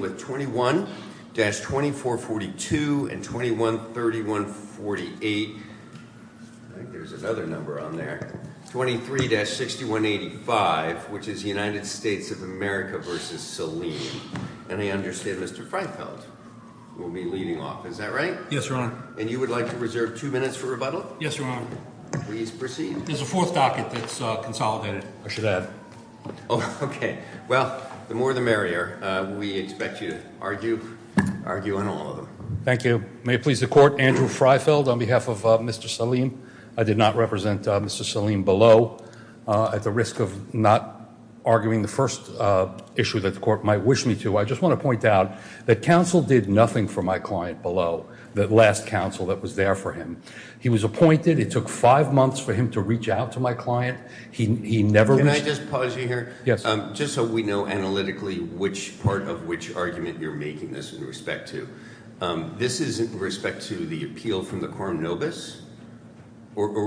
with 21-2442 and 21-3148, I think there's another number on there, 23-6185, which is United States of America v. Saleem. And I understand Mr. Freifeld will be leading off, is that right? Yes, Your Honor. And you would like to reserve two minutes for rebuttal? Yes, Your Honor. Please proceed. There's a fourth docket that's consolidated, I should Okay, well, the more the merrier. We expect you to argue on all of them. Thank you. May it please the Court, Andrew Freifeld on behalf of Mr. Saleem. I did not represent Mr. Saleem below at the risk of not arguing the first issue that the Court might wish me to. I just want to point out that counsel did nothing for my client below, that last counsel that was there for him. He was it took five months for him to reach out to my client. He never... Can I just pause you here? Yes. Just so we know analytically which part of which argument you're making this in respect to. This is in respect to the appeal from the Quorum Novus?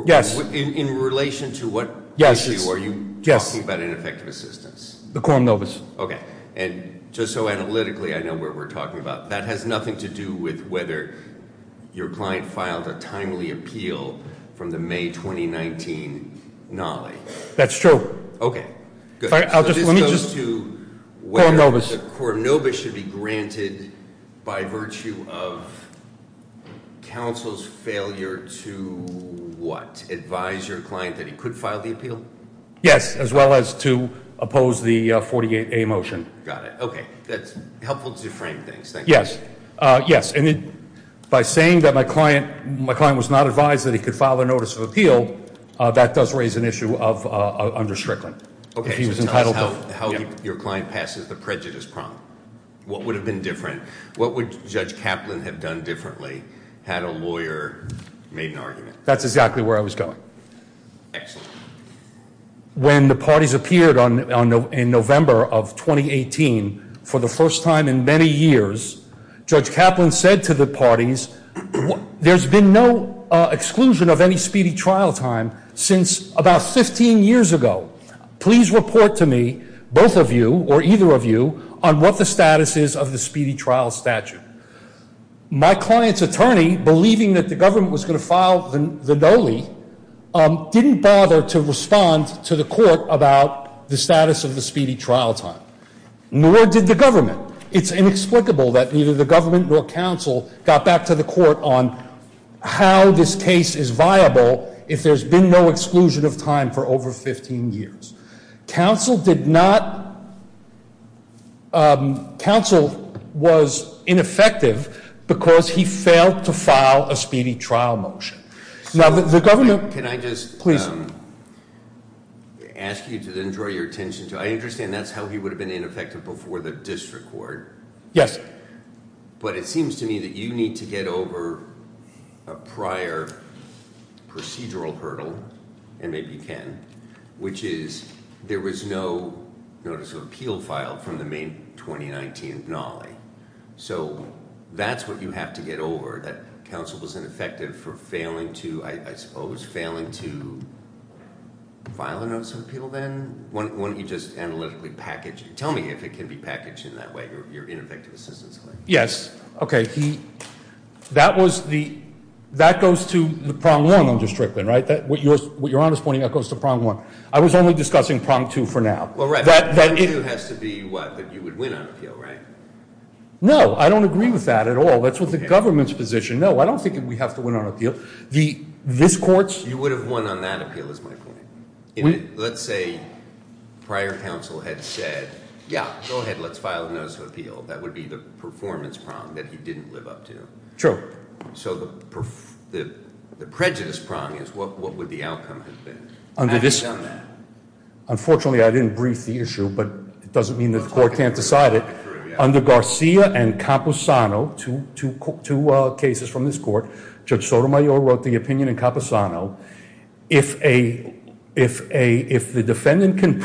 Yes. In relation to what issue are you talking about in effective assistance? The Quorum Novus. Okay. And just so analytically, I know what we're talking about. That has nothing to do with whether your client filed a timely appeal from the May 2019 NALI. That's true. Okay, good. Let me just... Quorum Novus. Quorum Novus should be granted by virtue of counsel's failure to what? Advise your client that he could file the appeal? Yes, as well as to oppose the 48A motion. Got it. Okay, that's helpful to frame things. Yes. Yes. And by saying that my client was not advised that he could file a notice of appeal, that does raise an issue of under Strickland. Okay. How your client passes the prejudice prompt? What would have been different? What would Judge Kaplan have done differently had a lawyer made an argument? That's exactly where I was going. Excellent. When the parties appeared in November of 2018, for the first time in many years, Judge Kaplan said to the parties, there's been no exclusion of any speedy trial time since about 15 years ago. Please report to me, both of you or either of you, on what the status is of the speedy trial statute. My client's attorney, believing that the government was going to file the doly, didn't bother to respond to the court about the status of the speedy trial time. Nor did the government. It's inexplicable that neither the government nor counsel got back to the court on how this case is viable if there's been no exclusion of time for over 15 years. Counsel did not... Counsel was ineffective because he failed to file a speedy trial motion. Now the government... Can I just ask you to then draw your attention to... I understand that's how he would have been ineffective before the district court. Yes. But it seems to me that you need to get over a prior procedural hurdle, and maybe you can, which is there was no notice of appeal filed from the May 2019 doly. So that's what you have to get over, that counsel was ineffective for failing to, I suppose, failing to file a notice of appeal then? Why don't you just analytically package it? Tell me if it can be packaged in that way, your ineffective assistance claim. Yes. Okay, that was the, that goes to the prong one on district one, right? What you're honest pointing out goes to prong one. I was only discussing prong two for now. Well, right, that has to be what? That you would win on appeal, right? No, I don't agree with that at all. That's what the government's position. No, I don't think we have to win on appeal. This court... You would have won on that appeal is my point. Let's say prior counsel had said, yeah, go ahead, let's file a notice of appeal. That would be the performance prong that he didn't live up to. True. So the prejudice prong is what would the outcome have been? Unfortunately, I didn't brief the issue, but it doesn't mean that the court can't decide it. Under Garcia and Camposano, two cases from this court, Judge Sotomayor wrote the opinion in Camposano. If the defendant can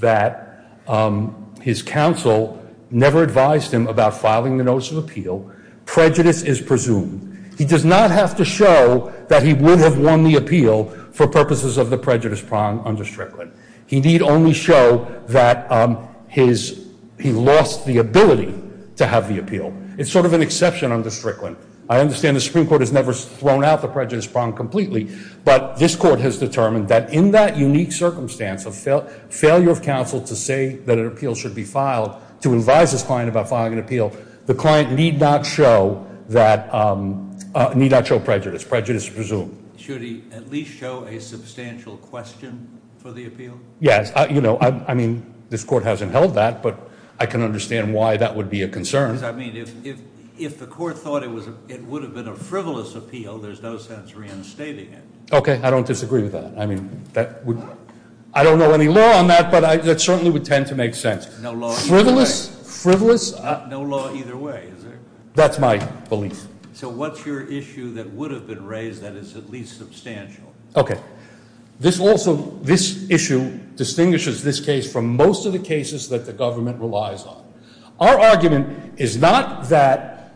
that his counsel never advised him about filing the notice of appeal, prejudice is presumed. He does not have to show that he would have won the appeal for purposes of the prejudice prong under Strickland. He need only show that he lost the ability to have the appeal. It's sort of an exception under Strickland. I understand the Supreme Court has never thrown out the prejudice prong completely, but this court has determined that in that unique circumstance of failure of counsel to say that an appeal should be filed, to advise his client about filing an appeal, the client need not show prejudice. Prejudice is presumed. Should he at least show a substantial question for the appeal? Yes. I mean, this court hasn't held that, but I can understand why that would be a concern. Because I mean, if the court thought it would have been a frivolous appeal, there's no sense reinstating it. Okay. I don't disagree with that. I don't know any law on that, that certainly would tend to make sense. No law either way. Frivolous, frivolous. No law either way. That's my belief. So what's your issue that would have been raised that is at least substantial? Okay. This also, this issue distinguishes this case from most of the cases that the government relies on. Our argument is not that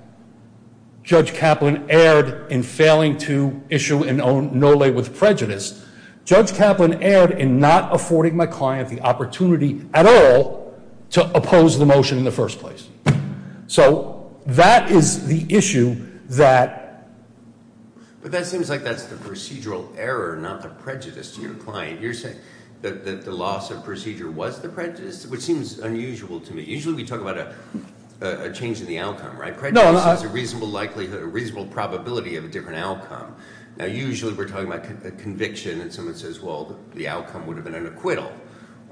Judge Kaplan erred in failing to issue an own no-lay with prejudice. Judge Kaplan erred in not affording my client the opportunity at all to oppose the motion in the first place. So that is the issue that... But that seems like that's the procedural error, not the prejudice to your client. You're saying that the loss of procedure was the prejudice, which seems unusual to me. Usually we talk about a change in the outcome, right? Prejudice is a reasonable likelihood, a reasonable probability of a different outcome. Now, usually we're talking about a conviction and someone says, well, the outcome would have been an acquittal,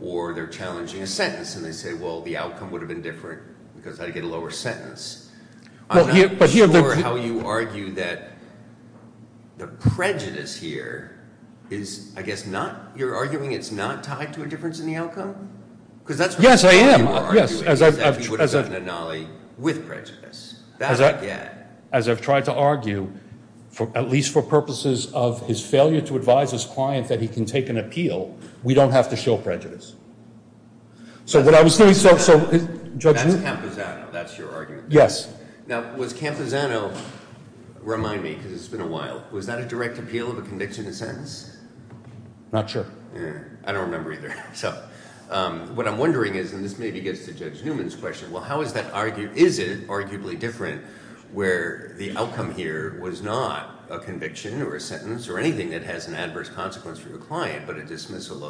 or they're challenging a sentence and they say, well, the outcome would have been different because I'd get a lower sentence. I'm not sure how you argue that the prejudice here is, I guess, not, you're arguing it's not tied to a difference in the outcome? Because that's... Yes, I am, yes. As I've tried to argue, at least for purposes of his failure to advise his client that he can take an appeal, we don't have to show prejudice. So what I was doing... That's Camposano, that's your argument. Yes. Now, was Camposano, remind me because it's been a while, was that a direct appeal of a conviction and sentence? Not sure. I don't remember either. So what I'm wondering is, and this maybe gets to Judge Newman's question, well, how is that argued, is it arguably different where the outcome here was not a conviction or a sentence or anything that has an adverse consequence for the client, but a dismissal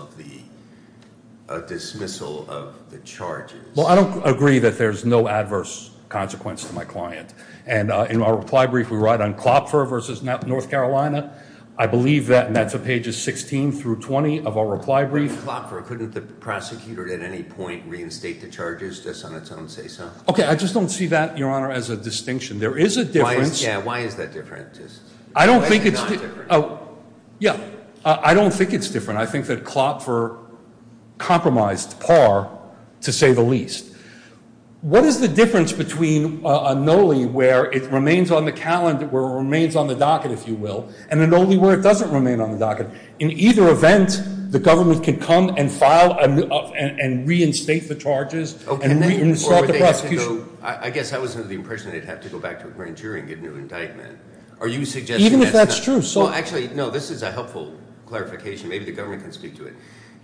of the charges? Well, I don't agree that there's no adverse consequence to my client. And in our reply brief, we write on Klopfer versus North Carolina. I believe that, and that's on pages 16 through 20 of our reply brief. Klopfer, couldn't the prosecutor at any point reinstate the charges just on its own say so? Okay, I just don't see that, Your Honor, as a distinction. There is a difference. Yeah, why is that different? I don't think it's... Yeah, I don't think it's different. I think that Klopfer compromised par, to say the least. What is the difference between a NOLI where it remains on the calendar, where it remains on the docket, if you will, and a NOLI where it doesn't remain on the docket? In either event, the government can come and reinstate the charges and reinstate the prosecution. I guess that wasn't the impression they'd have to go back to a grand jury and get a new indictment. Are you suggesting... Even if that's true, so... Well, actually, no, this is a helpful clarification. Maybe the government can speak to it.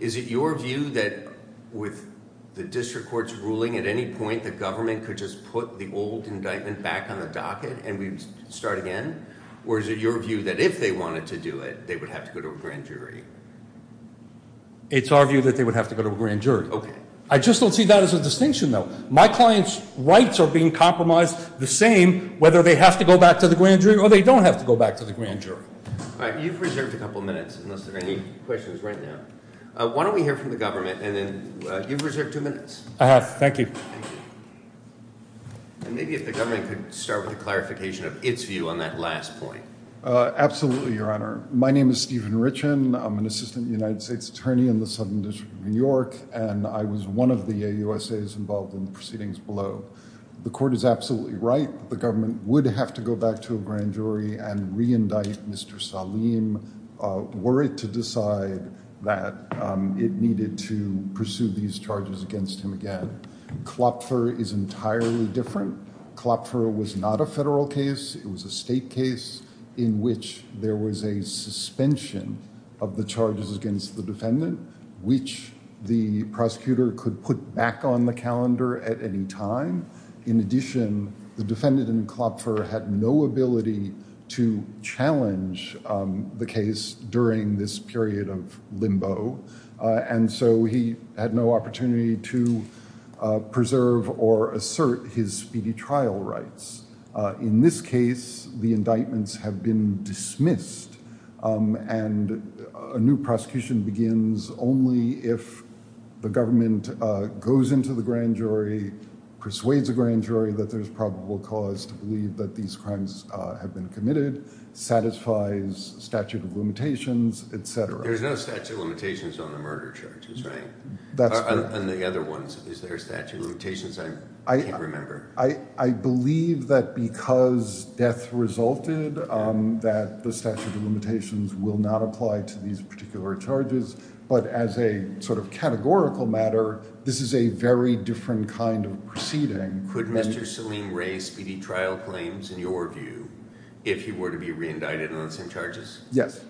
Is it your view that with the district court's ruling at any point, the government could just put the old indictment back on the docket and we start again? Or is it your view that if they wanted to do it, they would have to go to a grand jury? It's our view that they would have to go to a grand jury. Okay. I just don't see that as a distinction, though. My client's rights are being compromised the same whether they have to go back to the grand jury or they don't have to go back to the grand jury. All right, you've reserved a couple minutes unless there are any questions right now. Why don't we hear from the government and then you've reserved two minutes. I have, thank you. And maybe if the government could start with a clarification of its view on that last point. Absolutely, Your Honor. My name is Stephen Richen. I'm an assistant United States attorney in the Southern District of New York, and I was one of the AUSAs involved in the proceedings below. The court is absolutely right that the government would have to go back to a grand jury and reindict Mr. Salim, were it to decide that it needed to pursue these charges against him again. Klopfer is entirely different. Klopfer was not a federal case. It was a state case in which there was a suspension of the charges against the defendant, which the prosecutor could put back on the calendar at any time. In addition, the defendant in Klopfer had no ability to challenge the case during this period of limbo, and so he had no opportunity to preserve or assert his speedy trial rights. In this case, the indictments have been dismissed, and a new prosecution begins only if the government goes into the grand jury, persuades a grand jury that there's probable cause to believe that these crimes have been committed, satisfies statute of limitations, etc. There's no statute of limitations on the murder charges, right? And the other ones, is there statute of limitations? I can't remember. I believe that because death resulted, that the statute of limitations will not apply to these particular charges, but as a sort of categorical matter, this is a very different kind of proceeding. Could Mr. Salim raise speedy trial claims in your view if he were to be re-indicted on the same charges? Yes.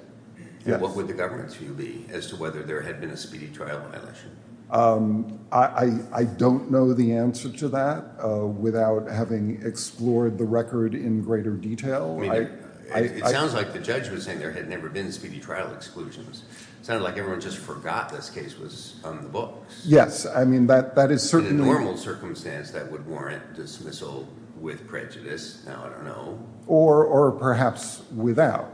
What would the government's view be as to whether there had been a speedy trial violation? I don't know the answer to that without having explored the record in greater detail. It sounds like the judge was saying there had never been trial exclusions. It sounded like everyone just forgot this case was on the books. Yes, I mean, that is certainly a normal circumstance that would warrant dismissal with prejudice. Now, I don't know. Or perhaps without.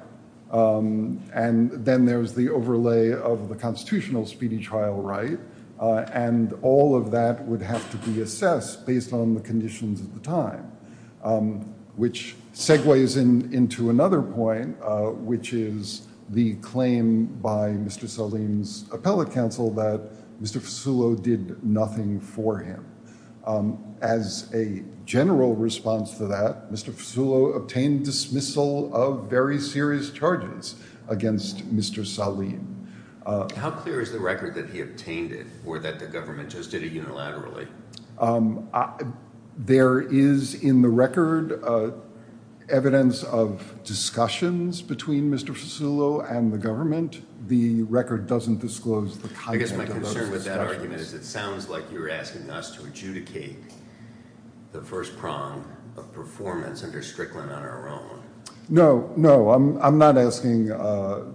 And then there's the overlay of the constitutional speedy trial right, and all of that would have to be assessed based on the conditions at the time, which segues into another point, which is the claim by Mr. Salim's appellate counsel that Mr. Fasulo did nothing for him. As a general response to that, Mr. Fasulo obtained dismissal of very serious charges against Mr. Salim. How clear is the record that he obtained it, or that the government just did it unilaterally? There is in the record evidence of discussions between Mr. Fasulo and the government. The record doesn't disclose the content. I guess my concern with that argument is it sounds like you're asking us to adjudicate the first prong of performance under Strickland on our own. No, no, I'm not asking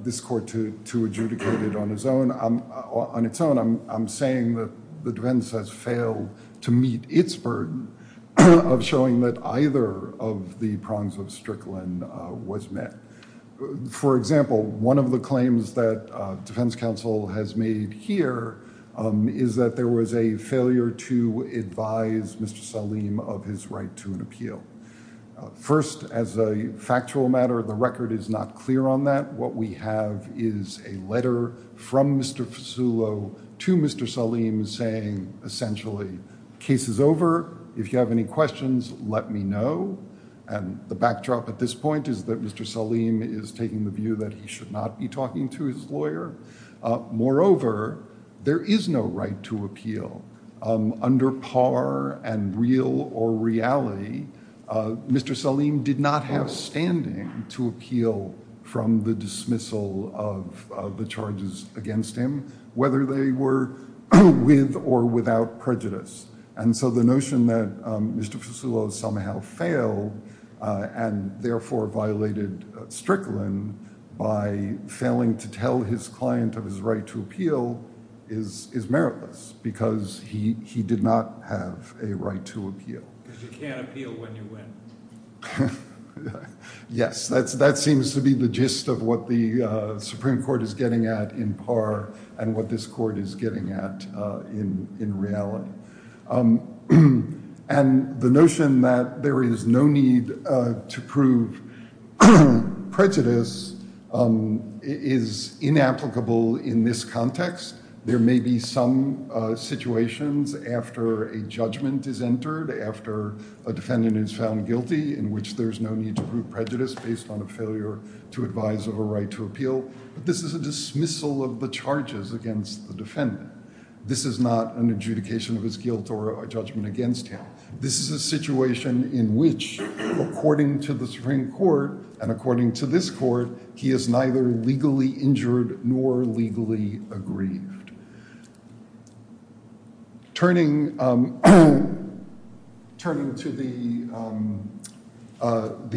this court to adjudicate it on its own. On its own, I'm saying that the defense has failed to meet its burden of showing that either of the prongs of Strickland was met. For example, one of the claims that defense counsel has made here is that there was a failure to advise Mr. Salim of his right to an appeal. First, as a factual matter, the record is not clear on that. What we have is a letter from Mr. Fasulo to Mr. Salim saying, essentially, case is over. If you have any questions, let me know. The backdrop at this point is that Mr. Salim is taking the view that he should not be talking to his lawyer. Moreover, there is no right to appeal. Under par and real or reality, Mr. Salim did not have standing to appeal from the dismissal of the charges against him, whether they were with or without prejudice. And so the notion that Mr. Fasulo somehow failed and therefore violated Strickland by failing to tell his client of his right to appeal is meritless because he did not have a right to appeal. Because you can't appeal when you win. Yes, that seems to be the gist of what the Supreme Court is getting at in par and what this court is getting at in reality. And the notion that there is no need to prove prejudice is inapplicable in this context. There may be some situations after a judgment is entered, after a defendant is found guilty, in which there's no need to prove prejudice based on a failure to advise of a right to appeal. But this is a dismissal of the charges against the defendant. This is not an adjudication of his guilt or a judgment against him. This is a situation in which, according to the Supreme Court and according to this court, he is neither legally injured nor legally aggrieved. Turning to the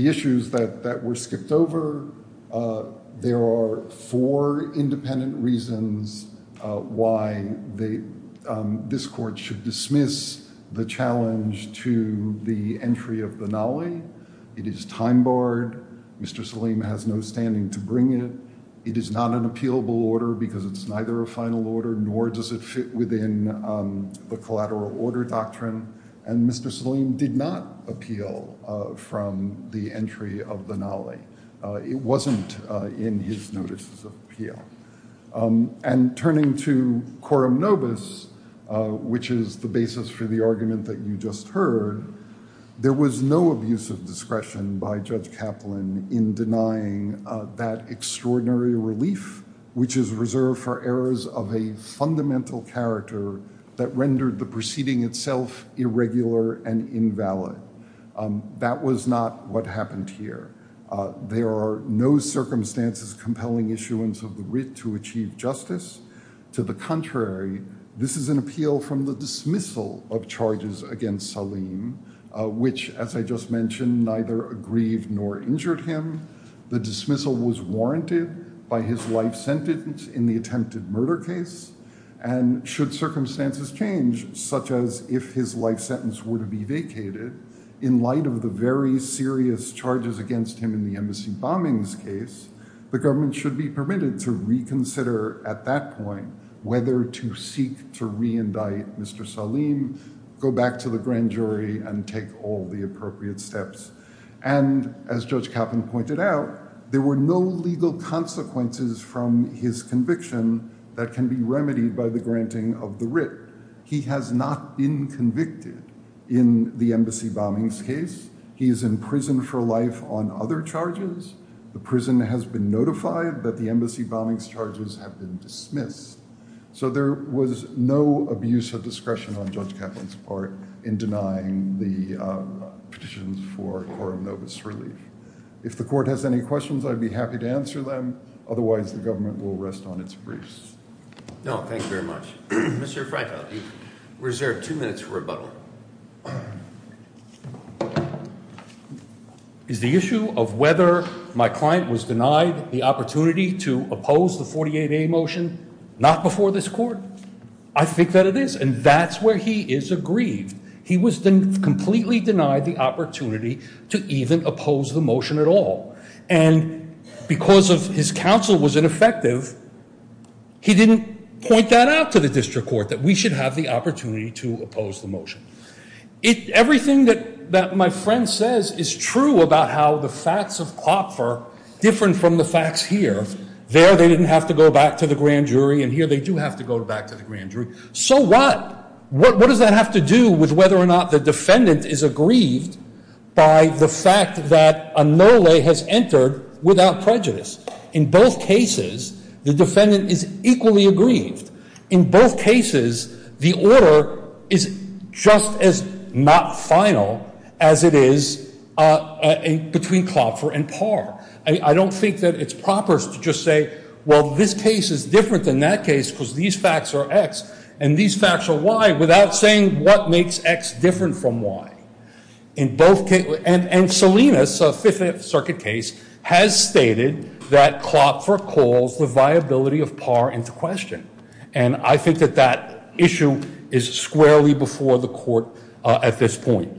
issues that were skipped over, there are four independent reasons why this court should dismiss the challenge to the entry of the Nali. It is time barred. Mr. Saleem has no standing to bring it. It is not an appealable order because it's neither a final order nor does it fit within the collateral order doctrine. And Mr. Saleem did appeal from the entry of the Nali. It wasn't in his notices of appeal. And turning to quorum nobis, which is the basis for the argument that you just heard, there was no abuse of discretion by Judge Kaplan in denying that extraordinary relief, which is reserved for errors of a fundamental character that rendered the proceeding itself irregular and invalid. That was not what happened here. There are no circumstances compelling issuance of the writ to achieve justice. To the contrary, this is an appeal from the dismissal of charges against Saleem, which, as I just mentioned, neither aggrieved nor injured him. The dismissal was warranted by his life sentence in the attempted murder case. And should circumstances change, such as if his life sentence were to be vacated, in light of the very serious charges against him in the embassy bombings case, the government should be permitted to reconsider at that point whether to seek to reindict Mr. Saleem, go back to the grand jury and take all the appropriate steps. And as Judge Kaplan pointed out, there were no legal consequences from his conviction that can be remedied by the granting of the writ. He has not been convicted in the embassy bombings case. He is in prison for life on other charges. The prison has been notified that the embassy bombings charges have been dismissed. So there was no abuse of discretion on Judge Kaplan's part in denying the petitions for Coram Novus relief. If the court has any questions, I'd be happy to answer them. Otherwise, the government will rest on its briefs. No, thank you very much. Mr. Frankl, you reserved two minutes for rebuttal. Is the issue of whether my client was denied the opportunity to oppose the 48a motion not before this court? I think that it is. And that's where he is aggrieved. He was completely denied the opportunity to even oppose the motion at all. And because of his counsel was ineffective, he didn't point that out to the district court that we should have the opportunity to oppose the motion. Everything that my friend says is true about how the facts of Klopfer are different from the facts here. There, they didn't have to go back to the grand jury. And here, they do have to go back to the grand jury. So what? What does that have to do with whether or not the defendant is aggrieved by the fact that a no-lay has entered without prejudice? In both cases, the defendant is equally aggrieved. In both cases, the order is just as not final as it is between Klopfer and Parr. I don't think that it's proper to just say, well, this case is different than that case because these facts are X and these facts are Y, without saying what makes X different from Y. And Selena's Fifth Circuit case has stated that Klopfer calls the viability of Parr into question. And I think that that issue is squarely before the court at this point.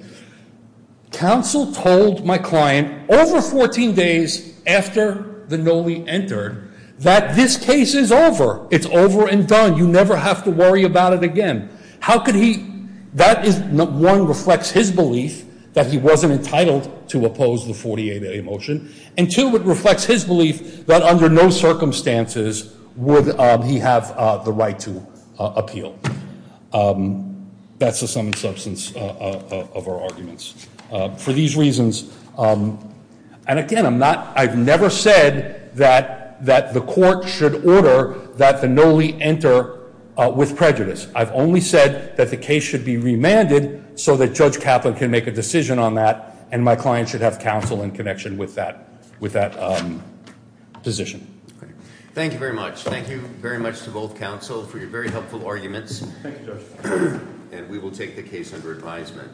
Counsel told my client over 14 days after the no-lay entered that this case is over. It's over and done. You never have to worry about it again. How could he? That is, one, reflects his belief that he wasn't entitled to oppose the 48A motion. And two, it reflects his belief that under no circumstances would he have the right to appeal. That's the sum and substance of our arguments. For these reasons, and again, I'm not, I've never said that the court should order that the no-lay enter with prejudice. I've only said that the case should be remanded so that Judge Kaplan can make a decision on that and my client should have counsel in connection with that position. Thank you very much. Thank you very much to both counsel for your very helpful arguments. And we will take the case under advisement.